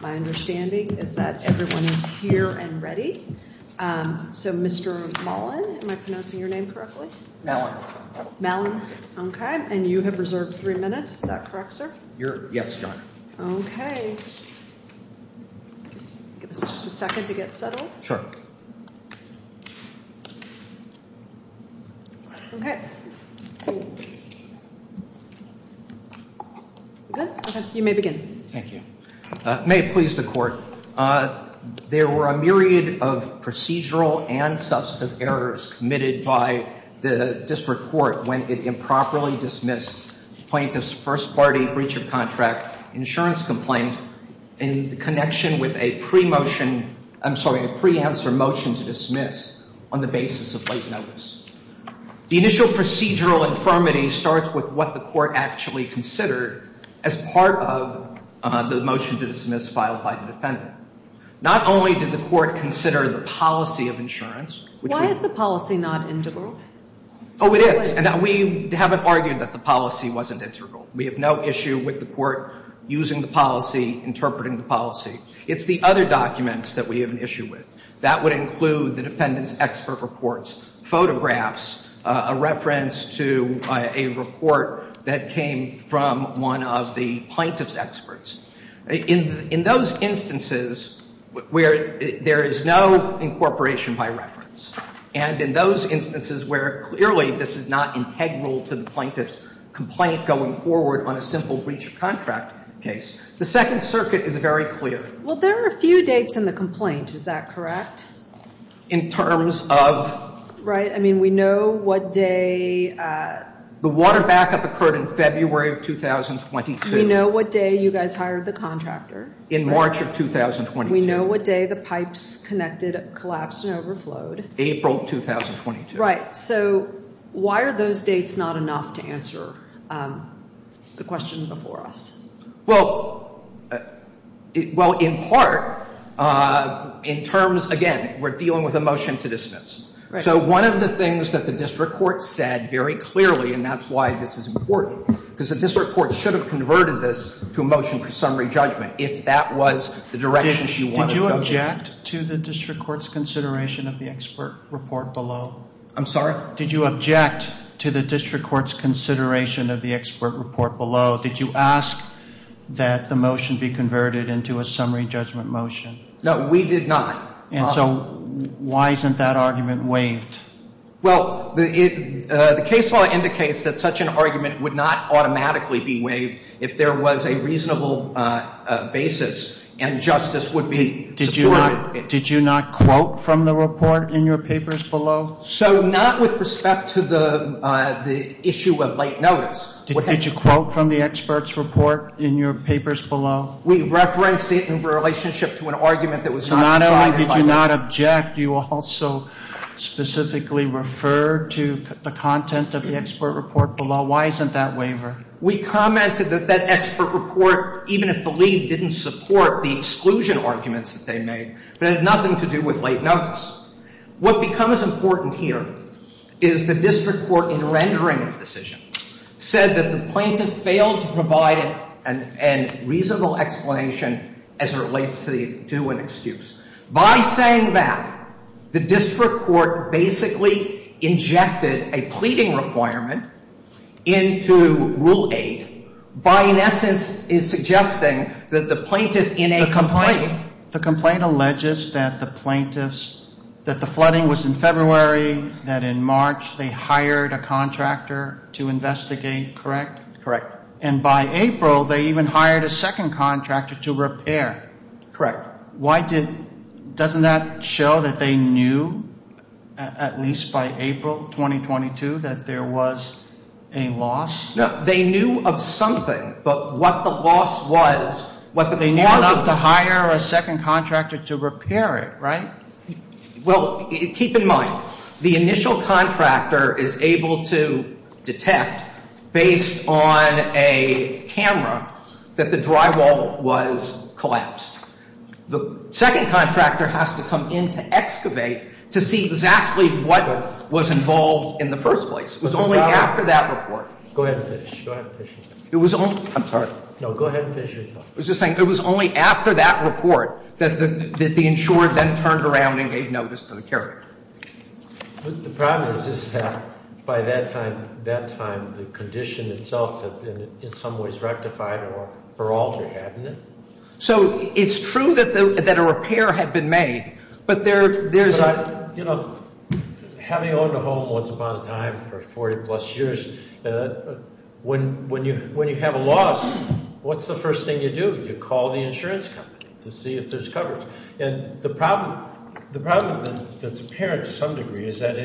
My understanding is that everyone is here and ready. So Mr. Mullen, am I pronouncing your name correctly? Mullen. Mullen. Okay. And you have reserved three minutes. Is that correct, sir? Yes, John. Okay. Give us just a second to get settled. Sure. Okay. Good? Okay. You may begin. Thank you. May it please the Court. There were a myriad of procedural and substantive errors committed by the district court when it improperly dismissed plaintiff's first party breach of contract insurance complaint in connection with a pre-motion, I'm sorry, a pre-answer motion to dismiss on the basis of late notice. The initial procedural infirmity starts with what the court actually considered as part of the motion to dismiss filed by the defendant. Not only did the court consider the policy of insurance. Why is the policy not integral? Oh, it is. And we haven't argued that the policy wasn't integral. We have no issue with the court using the policy, interpreting the policy. It's the other documents that we have an issue with. That would include the defendant's expert reports, photographs, a reference to a report that came from one of the plaintiff's experts. In those instances where there is no incorporation by reference, and in those instances where clearly this is not integral to the plaintiff's complaint going forward on a simple breach of contract case, the Second Circuit is very clear. Well, there are a few dates in the complaint. Is that correct? In terms of? Right. I mean, we know what day. The water backup occurred in February of 2022. We know what day you guys hired the contractor. In March of 2022. We know what day the pipes collapsed and overflowed. April of 2022. Right. So why are those dates not enough to answer the question before us? Well, in part, in terms, again, we're dealing with a motion to dismiss. So one of the things that the district court said very clearly, and that's why this is important, because the district court should have converted this to a motion for summary judgment if that was the direction she wanted. Did you object to the district court's consideration of the expert report below? I'm sorry? Did you object to the district court's consideration of the expert report below? Did you ask that the motion be converted into a summary judgment motion? No, we did not. And so why isn't that argument waived? Well, the case law indicates that such an argument would not automatically be waived if there was a reasonable basis and justice would be supported. Did you not quote from the report in your papers below? So not with respect to the issue of late notice. Did you quote from the expert's report in your papers below? We referenced it in relationship to an argument that was not decided by law. So not only did you not object, you also specifically referred to the content of the expert report below. Why isn't that waiver? We commented that that expert report, even if believed, didn't support the exclusion arguments that they made, but it had nothing to do with late notice. What becomes important here is the district court, in rendering its decision, said that the plaintiff failed to provide a reasonable explanation as it relates to an excuse. By saying that, the district court basically injected a pleading requirement into Rule 8 by, in essence, suggesting that the plaintiff in a complaint… …that the flooding was in February, that in March they hired a contractor to investigate, correct? Correct. And by April, they even hired a second contractor to repair. Correct. Why did – doesn't that show that they knew, at least by April 2022, that there was a loss? No. They knew of something, but what the loss was – But they knew enough to hire a second contractor to repair it, right? Well, keep in mind, the initial contractor is able to detect, based on a camera, that the drywall was collapsed. The second contractor has to come in to excavate to see exactly what was involved in the first place. It was only after that report. Go ahead and finish. Go ahead and finish your talk. It was only – I'm sorry. No, go ahead and finish your talk. I was just saying, it was only after that report that the insurer then turned around and gave notice to the caretaker. The problem is that by that time, the condition itself had been, in some ways, rectified or altered, hadn't it? So it's true that a repair had been made, but there's a – Having owned a home once upon a time for 40-plus years, when you have a loss, what's the first thing you do? You call the insurance company to see if there's coverage. And the problem that's apparent to some degree is that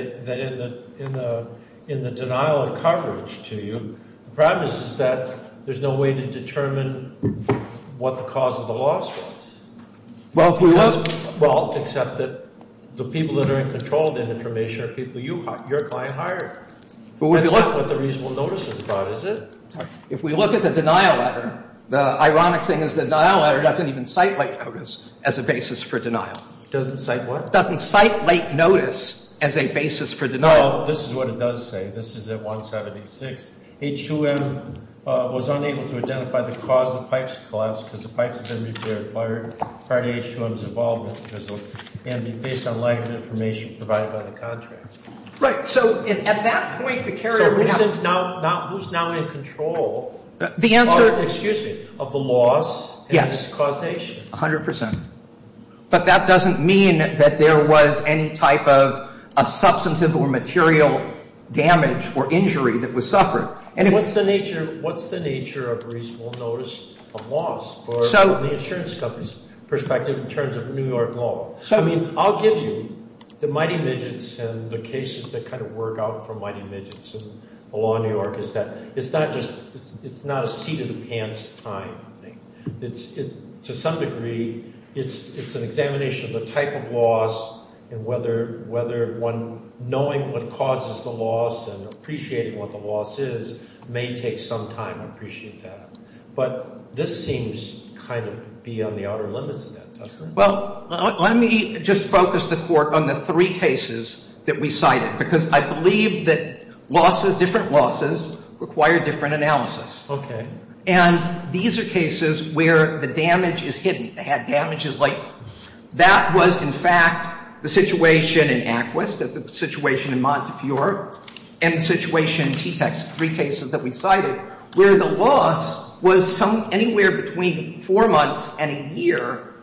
in the denial of coverage to you, the problem is that there's no way to determine what the cause of the loss was. Well, if we – That's not what the reasonable notice is about, is it? If we look at the denial letter, the ironic thing is the denial letter doesn't even cite late notice as a basis for denial. Doesn't cite what? Doesn't cite late notice as a basis for denial. Well, this is what it does say. This is at 176. H2M was unable to identify the cause of the pipes collapse because the pipes had been repaired prior to H2M's involvement and based on lack of information provided by the contractor. Right. So at that point, the carrier would have – So who's now in control of the loss and its causation? Yes, 100 percent. But that doesn't mean that there was any type of substantive or material damage or injury that was suffered. What's the nature of a reasonable notice of loss from the insurance company's perspective in terms of New York law? I mean, I'll give you the Mighty Midgets and the cases that kind of work out from Mighty Midgets and the law in New York is that it's not just – it's not a seat-in-the-pants kind of thing. To some degree, it's an examination of the type of loss and whether one – knowing what causes the loss and appreciating what the loss is may take some time to appreciate that. But this seems kind of beyond the outer limits of that, doesn't it? Well, let me just focus the court on the three cases that we cited because I believe that losses – different losses require different analysis. Okay. And these are cases where the damage is hidden. They had damages like – that was, in fact, the situation in Aquist, the situation in Montefiore, and the situation in T-Tex, three cases that we cited, where the loss was some – anywhere between four months and a year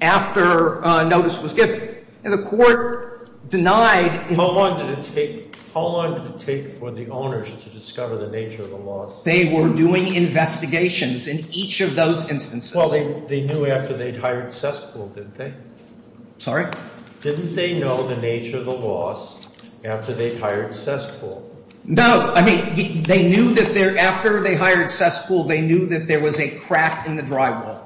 after notice was given. And the court denied – How long did it take – how long did it take for the owners to discover the nature of the loss? They were doing investigations in each of those instances. Well, they knew after they'd hired Sesspool, didn't they? Sorry? Didn't they know the nature of the loss after they hired Sesspool? No. I mean, they knew that after they hired Sesspool, they knew that there was a crack in the drywall.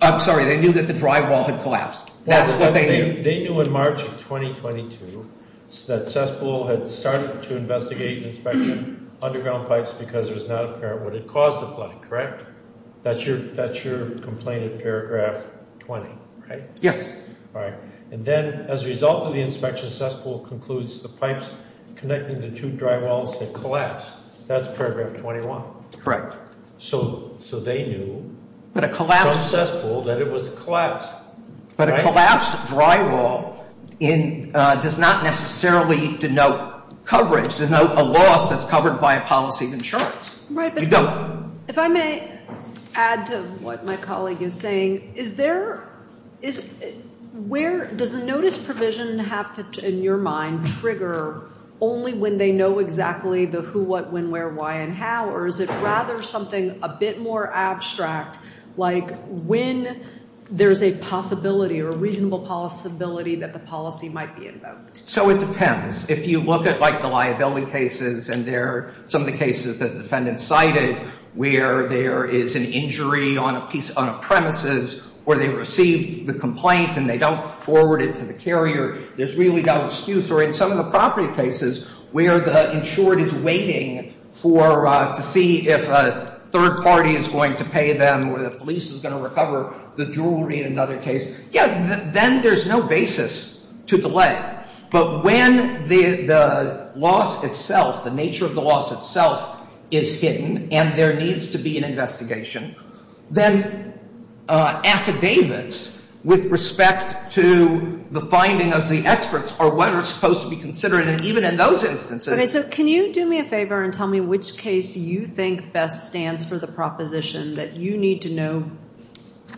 I'm sorry. They knew that the drywall had collapsed. That's what they knew. They knew in March of 2022 that Sesspool had started to investigate and inspect underground pipes because it was not apparent what had caused the flood, correct? That's your complaint in paragraph 20, right? Yes. All right. And then as a result of the inspection, Sesspool concludes the pipes connecting the two drywalls had collapsed. That's paragraph 21. So they knew from Sesspool that it was collapsed. But a collapsed drywall does not necessarily denote coverage, denotes a loss that's covered by a policy of insurance. Right. If I may add to what my colleague is saying, is there – where – does the notice provision have to, in your mind, trigger only when they know exactly the who, what, when, where, why, and how? Or is it rather something a bit more abstract, like when there's a possibility or a reasonable possibility that the policy might be invoked? So it depends. If you look at, like, the liability cases and there are some of the cases that the defendant cited where there is an injury on a piece – on a premises or they received the complaint and they don't forward it to the carrier, there's really no excuse. Or in some of the property cases where the insured is waiting for – to see if a third party is going to pay them or the police is going to recover the jewelry in another case, yeah, then there's no basis to delay. But when the loss itself, the nature of the loss itself is hidden and there needs to be an investigation, then affidavits with respect to the finding of the experts are what are supposed to be considered. Okay. So can you do me a favor and tell me which case you think best stands for the proposition that you need to know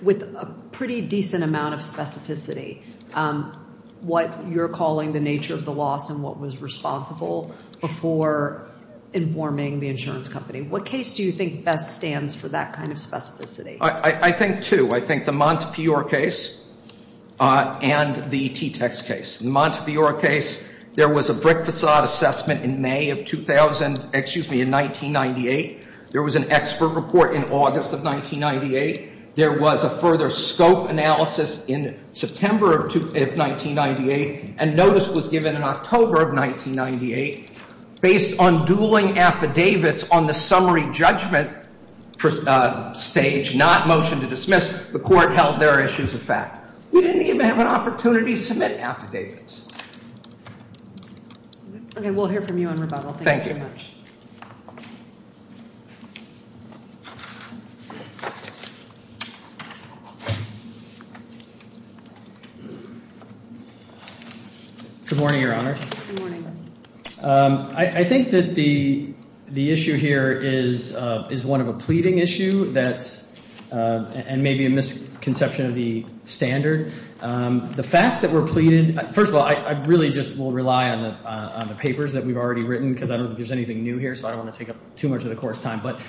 with a pretty decent amount of specificity what you're calling the nature of the loss and what was responsible before informing the insurance company? What case do you think best stands for that kind of specificity? I think two. I think the Montefiore case and the T-Tex case. The Montefiore case, there was a brick façade assessment in May of 2000 – excuse me, in 1998. There was an expert report in August of 1998. There was a further scope analysis in September of 1998. And notice was given in October of 1998. Based on dueling affidavits on the summary judgment stage, not motion to dismiss, the court held their issues a fact. We didn't even have an opportunity to submit affidavits. Okay. We'll hear from you on rebuttal. Thank you. Thank you very much. Good morning, Your Honors. Good morning. I think that the issue here is one of a pleading issue that's – and maybe a misconception of the standard. The facts that were pleaded – first of all, I really just will rely on the papers that we've already written because I don't think there's anything new here, so I don't want to take up too much of the court's time. But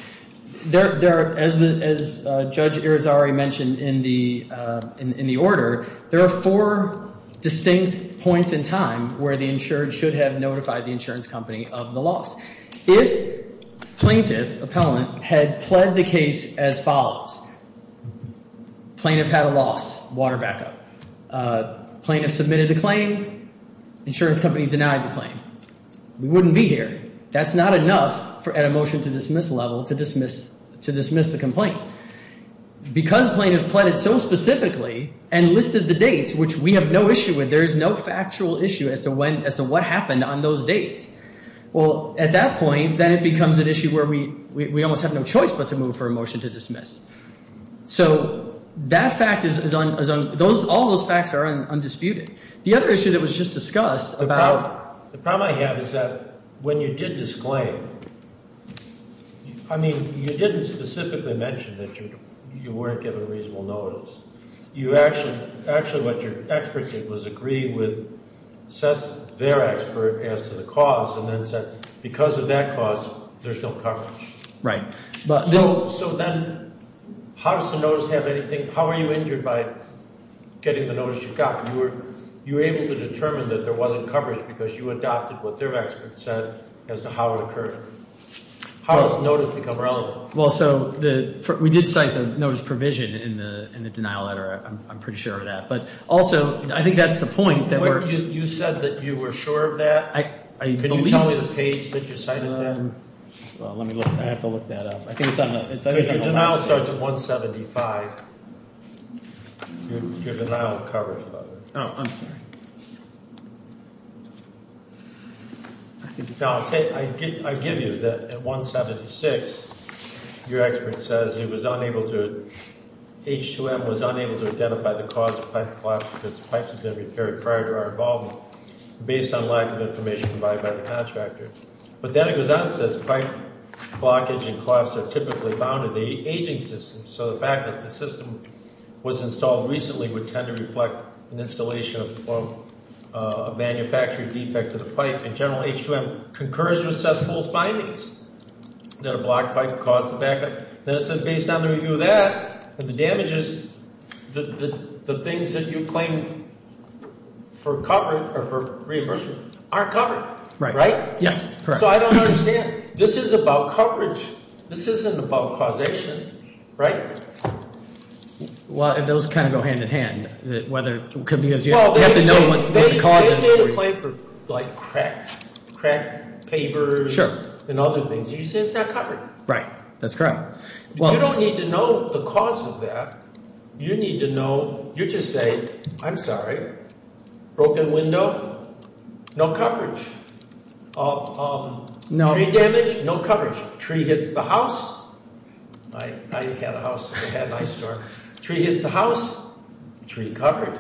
there – as Judge Irizarry mentioned in the order, there are four distinct points in time where the insured should have notified the insurance company of the loss. If plaintiff, appellant, had pled the case as follows – plaintiff had a loss, water backup. Plaintiff submitted a claim. Insurance company denied the claim. We wouldn't be here. That's not enough at a motion-to-dismiss level to dismiss the complaint. Because plaintiff pleaded so specifically and listed the dates, which we have no issue with, there is no factual issue as to when – as to what happened on those dates. Well, at that point, then it becomes an issue where we almost have no choice but to move for a motion to dismiss. So that fact is on – all those facts are undisputed. The other issue that was just discussed about – when you did disclaim, I mean you didn't specifically mention that you weren't given reasonable notice. You actually – actually what your expert did was agree with their expert as to the cause and then said because of that cause, there's no coverage. Right. So then how does the notice have anything – how are you injured by getting the notice you got? You were able to determine that there wasn't coverage because you adopted what their expert said as to how it occurred. How does the notice become relevant? Well, so the – we did cite the notice provision in the denial letter. I'm pretty sure of that. But also, I think that's the point that we're – You said that you were sure of that. I believe – Can you tell me the page that you cited that? Let me look. I have to look that up. I think it's on the – Denial starts at 175. You're denial of coverage. Oh, I'm sorry. Now, I'll tell you – I give you that at 176, your expert says he was unable to – H2M was unable to identify the cause of pipe collapse because the pipes had been repaired prior to our involvement based on lack of information provided by the contractor. But then it goes on and says pipe blockage and collapse are typically found in the aging system. So the fact that the system was installed recently would tend to reflect an installation of a manufacturing defect to the pipe. And General H2M concurs with Sesspool's findings that a blocked pipe caused the backup. Then it says based on the review of that, the damages, the things that you claim for coverage or for reimbursement aren't covered. Right. Right? Yes. Correct. So I don't understand. This is about coverage. This isn't about causation. Well, those kind of go hand-in-hand whether – because you have to know what the cause is. They made a claim for like cracked pavers and other things. You're saying it's not covered. Right. That's correct. You don't need to know the cause of that. You need to know – you just say, I'm sorry, broken window, no coverage. Tree damage, no coverage. Tree hits the house. I had a house. I had an ice store. Tree hits the house, tree covered.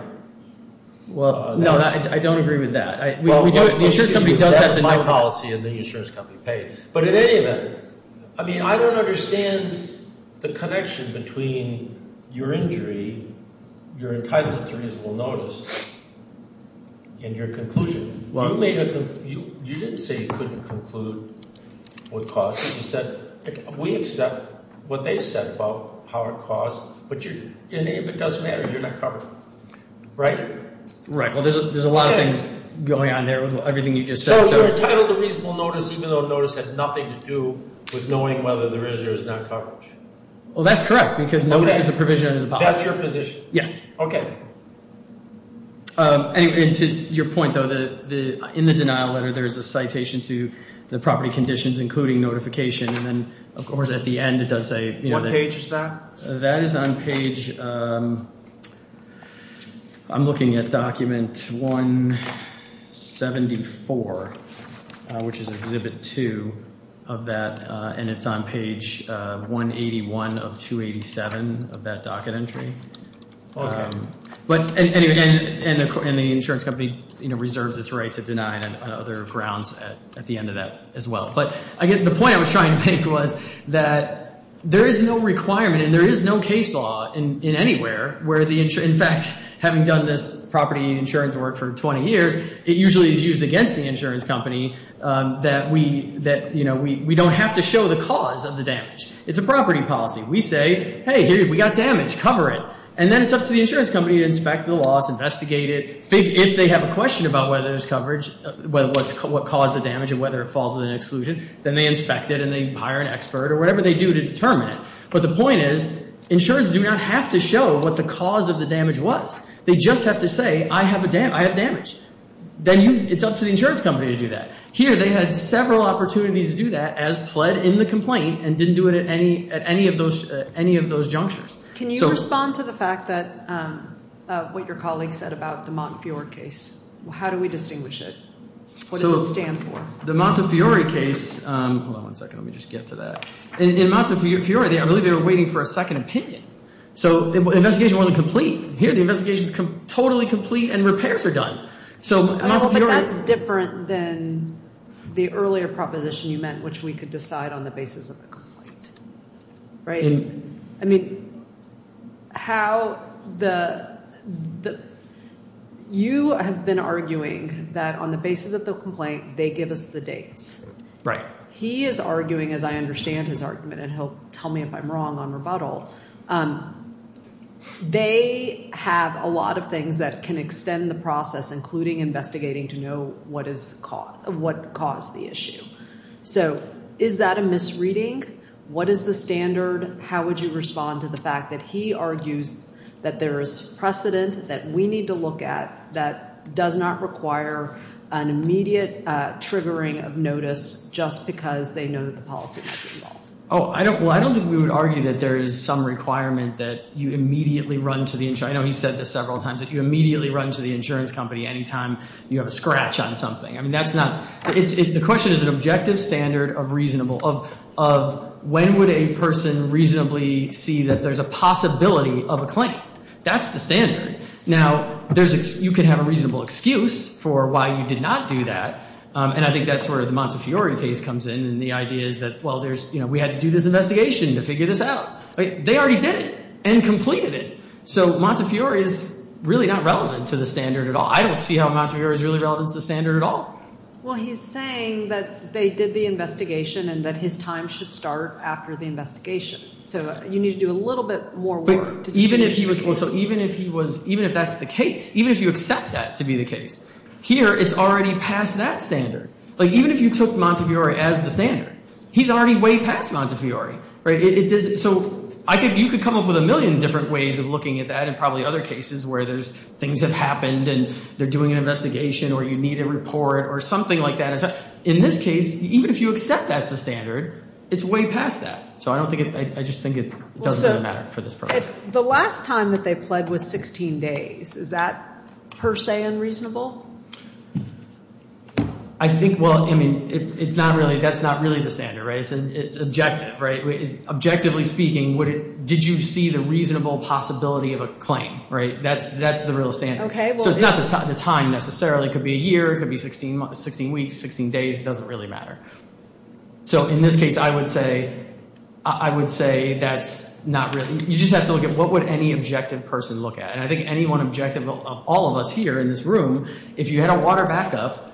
Well, no, I don't agree with that. The insurance company does have to know that. That's my policy and the insurance company pays. But in any event, I mean I don't understand the connection between your injury, your entitlement to reasonable notice, and your conclusion. You made a – you didn't say you couldn't conclude what caused it. You said we accept what they said about how it caused. But if it does matter, you're not covered. Right. Right. Well, there's a lot of things going on there with everything you just said. So you're entitled to reasonable notice even though notice has nothing to do with knowing whether there is or is not coverage. Well, that's correct because notice is a provision under the policy. That's your position? Yes. Okay. And to your point, though, in the denial letter there is a citation to the property conditions including notification. And then, of course, at the end it does say – What page is that? That is on page – I'm looking at document 174, which is exhibit two of that. And it's on page 181 of 287 of that docket entry. Okay. And the insurance company reserves its right to deny it on other grounds at the end of that as well. But the point I was trying to make was that there is no requirement and there is no case law in anywhere where the – in fact, having done this property insurance work for 20 years, it usually is used against the insurance company that we don't have to show the cause of the damage. It's a property policy. We say, hey, we got damage. Cover it. And then it's up to the insurance company to inspect the loss, investigate it. If they have a question about whether there's coverage, what caused the damage and whether it falls within exclusion, then they inspect it and they hire an expert or whatever they do to determine it. But the point is insurance do not have to show what the cause of the damage was. They just have to say, I have damage. Then it's up to the insurance company to do that. Here they had several opportunities to do that as pled in the complaint and didn't do it at any of those junctures. Can you respond to the fact that – what your colleague said about the Montefiore case? How do we distinguish it? What does it stand for? The Montefiore case – hold on one second. Let me just get to that. In Montefiore, I believe they were waiting for a second opinion. So the investigation wasn't complete. Here the investigation is totally complete and repairs are done. So Montefiore – But that's different than the earlier proposition you meant, which we could decide on the basis of the complaint, right? I mean, how the – you have been arguing that on the basis of the complaint, they give us the dates. Right. He is arguing, as I understand his argument, and he'll tell me if I'm wrong on rebuttal. They have a lot of things that can extend the process, including investigating to know what caused the issue. So is that a misreading? What is the standard? How would you respond to the fact that he argues that there is precedent that we need to look at that does not require an immediate triggering of notice just because they know the policy might be wrong? Oh, I don't – well, I don't think we would argue that there is some requirement that you immediately run to the – I know he said this several times, that you immediately run to the insurance company anytime you have a scratch on something. I mean, that's not – the question is an objective standard of reasonable – of when would a person reasonably see that there's a possibility of a claim? That's the standard. Now, there's – you could have a reasonable excuse for why you did not do that, and I think that's where the Montefiore case comes in and the idea is that, well, there's – we had to do this investigation to figure this out. They already did it and completed it. So Montefiore is really not relevant to the standard at all. I don't see how Montefiore is really relevant to the standard at all. Well, he's saying that they did the investigation and that his time should start after the investigation. So you need to do a little bit more work to see if he was – But even if he was – well, so even if he was – even if that's the case, even if you accept that to be the case, here it's already past that standard. Like, even if you took Montefiore as the standard, he's already way past Montefiore. So I think you could come up with a million different ways of looking at that and probably other cases where there's – things have happened and they're doing an investigation or you need a report or something like that. In this case, even if you accept that's the standard, it's way past that. So I don't think – I just think it doesn't really matter for this program. The last time that they pled was 16 days. Is that per se unreasonable? I think – well, I mean, it's not really – that's not really the standard, right? It's objective, right? Objectively speaking, did you see the reasonable possibility of a claim? That's the real standard. So it's not the time necessarily. It could be a year. It could be 16 weeks, 16 days. It doesn't really matter. So in this case, I would say that's not really – you just have to look at what would any objective person look at? And I think any one objective of all of us here in this room, if you had a water backup,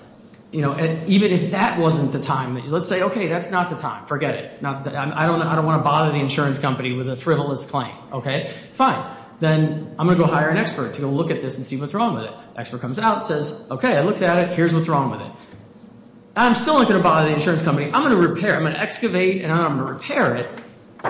even if that wasn't the time, let's say, okay, that's not the time. Forget it. I don't want to bother the insurance company with a frivolous claim. Okay, fine. Then I'm going to go hire an expert to go look at this and see what's wrong with it. The expert comes out and says, okay, I looked at it. Here's what's wrong with it. I'm still not going to bother the insurance company. I'm going to repair it. I'm going to excavate and I'm going to repair it,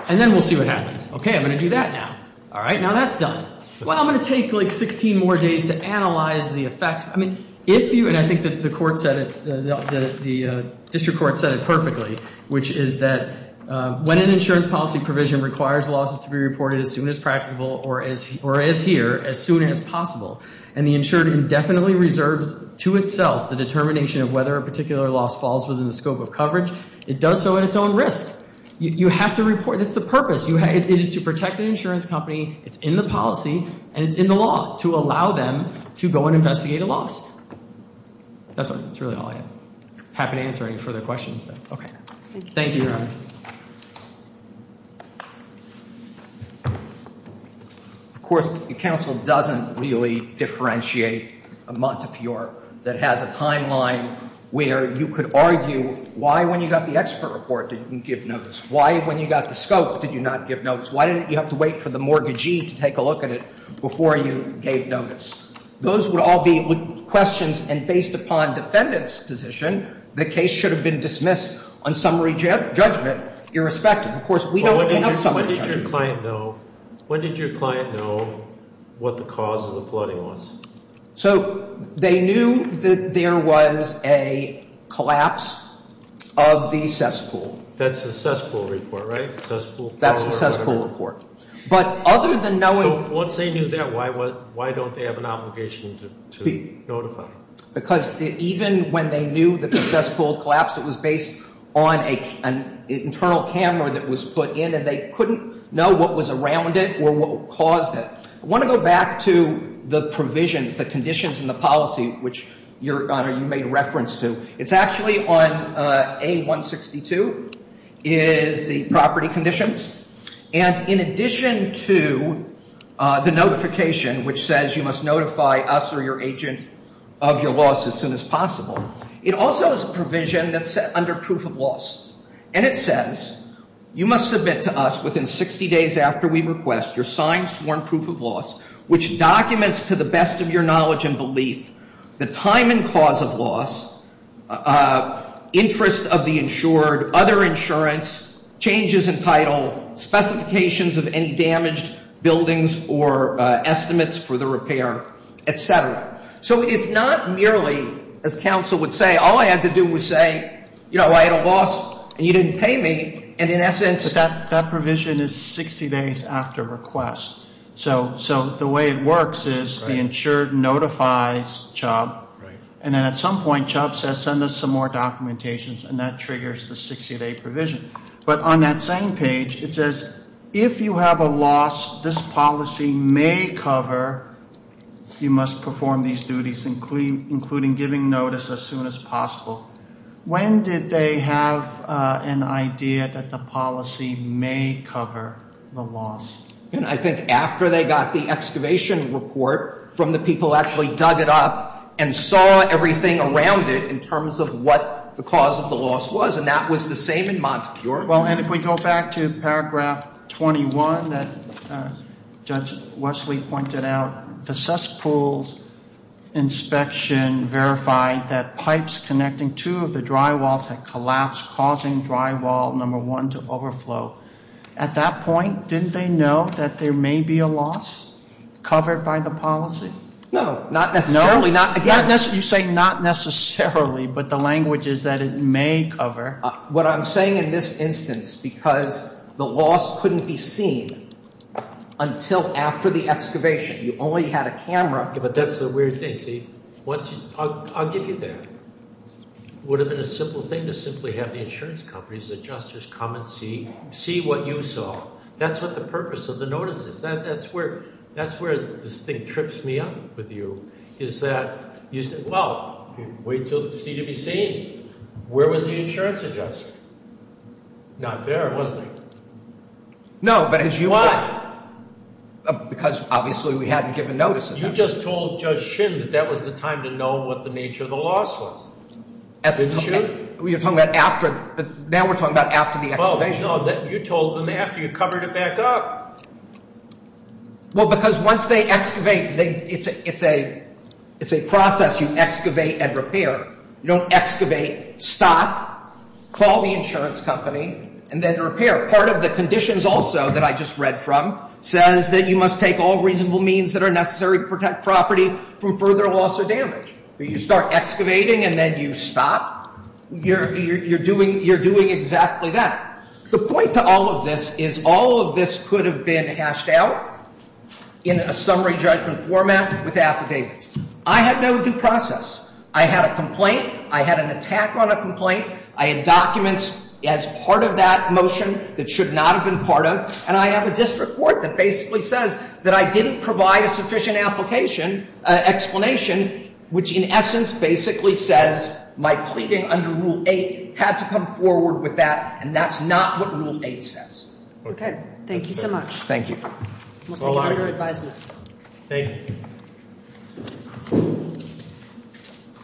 and then we'll see what happens. Okay, I'm going to do that now. All right, now that's done. Well, I'm going to take like 16 more days to analyze the effects. I mean, if you, and I think that the court said it, the district court said it perfectly, which is that when an insurance policy provision requires losses to be reported as soon as practicable or as here, as soon as possible, and the insured indefinitely reserves to itself the determination of whether a particular loss falls within the scope of coverage, it does so at its own risk. You have to report. That's the purpose. It is to protect an insurance company. It's in the policy, and it's in the law to allow them to go and investigate a loss. That's really all I have. Happy to answer any further questions. Okay. Thank you, Your Honor. Of course, the counsel doesn't really differentiate a Montefiore that has a timeline where you could argue why, when you got the expert report, did you give notice? Why, when you got the scope, did you not give notice? Why didn't you have to wait for the mortgagee to take a look at it before you gave notice? Those would all be questions, and based upon defendant's position, the case should have been dismissed on summary judgment, irrespective. Of course, we don't have summary judgment. When did your client know what the cause of the flooding was? So they knew that there was a collapse of the cesspool. That's the cesspool report, right? That's the cesspool report. So once they knew that, why don't they have an obligation to notify? Because even when they knew that the cesspool collapsed, it was based on an internal camera that was put in, and they couldn't know what was around it or what caused it. I want to go back to the provisions, the conditions in the policy, which, Your Honor, you made reference to. It's actually on A-162, is the property conditions. And in addition to the notification, which says you must notify us or your agent of your loss as soon as possible, it also has a provision that's set under proof of loss. And it says you must submit to us within 60 days after we request your signed, sworn proof of loss, which documents to the best of your knowledge and belief the time and cause of loss, interest of the insured, other insurance, changes in title, specifications of any damaged buildings or estimates for the repair, et cetera. So it's not merely, as counsel would say, all I had to do was say, you know, I had a loss and you didn't pay me. And in essence that provision is 60 days after request. So the way it works is the insured notifies Chubb, and then at some point Chubb says send us some more documentations, and that triggers the 60-day provision. But on that same page, it says if you have a loss this policy may cover, you must perform these duties, including giving notice as soon as possible. When did they have an idea that the policy may cover the loss? I think after they got the excavation report from the people who actually dug it up and saw everything around it in terms of what the cause of the loss was. And that was the same in Montefiore. And if we go back to paragraph 21 that Judge Wesley pointed out, the cesspools inspection verified that pipes connecting two of the drywalls had collapsed, causing drywall number one to overflow. At that point, didn't they know that there may be a loss covered by the policy? No, not necessarily. You say not necessarily, but the language is that it may cover. What I'm saying in this instance, because the loss couldn't be seen until after the excavation. You only had a camera. But that's the weird thing. See, I'll give you that. It would have been a simple thing to simply have the insurance companies, adjusters, come and see what you saw. That's what the purpose of the notice is. That's where this thing trips me up with you, is that you say, well, wait until it's easy to be seen. Where was the insurance adjuster? Not there, was he? No, but as you point out. Because obviously we hadn't given notice. You just told Judge Shin that that was the time to know what the nature of the loss was. Didn't you? You're talking about after. Now we're talking about after the excavation. No, you told them after you covered it back up. Well, because once they excavate, it's a process. You excavate and repair. You don't excavate, stop, call the insurance company, and then repair. Part of the conditions also that I just read from says that you must take all reasonable means that are necessary to protect property from further loss or damage. You start excavating and then you stop. You're doing exactly that. The point to all of this is all of this could have been hashed out in a summary judgment format with affidavits. I had no due process. I had a complaint. I had an attack on a complaint. I had documents as part of that motion that should not have been part of. And I have a district court that basically says that I didn't provide a sufficient application, explanation, which in essence basically says my pleading under Rule 8 had to come forward with that. And that's not what Rule 8 says. Okay. Thank you so much. Thank you. We'll take it under advisement. Thank you.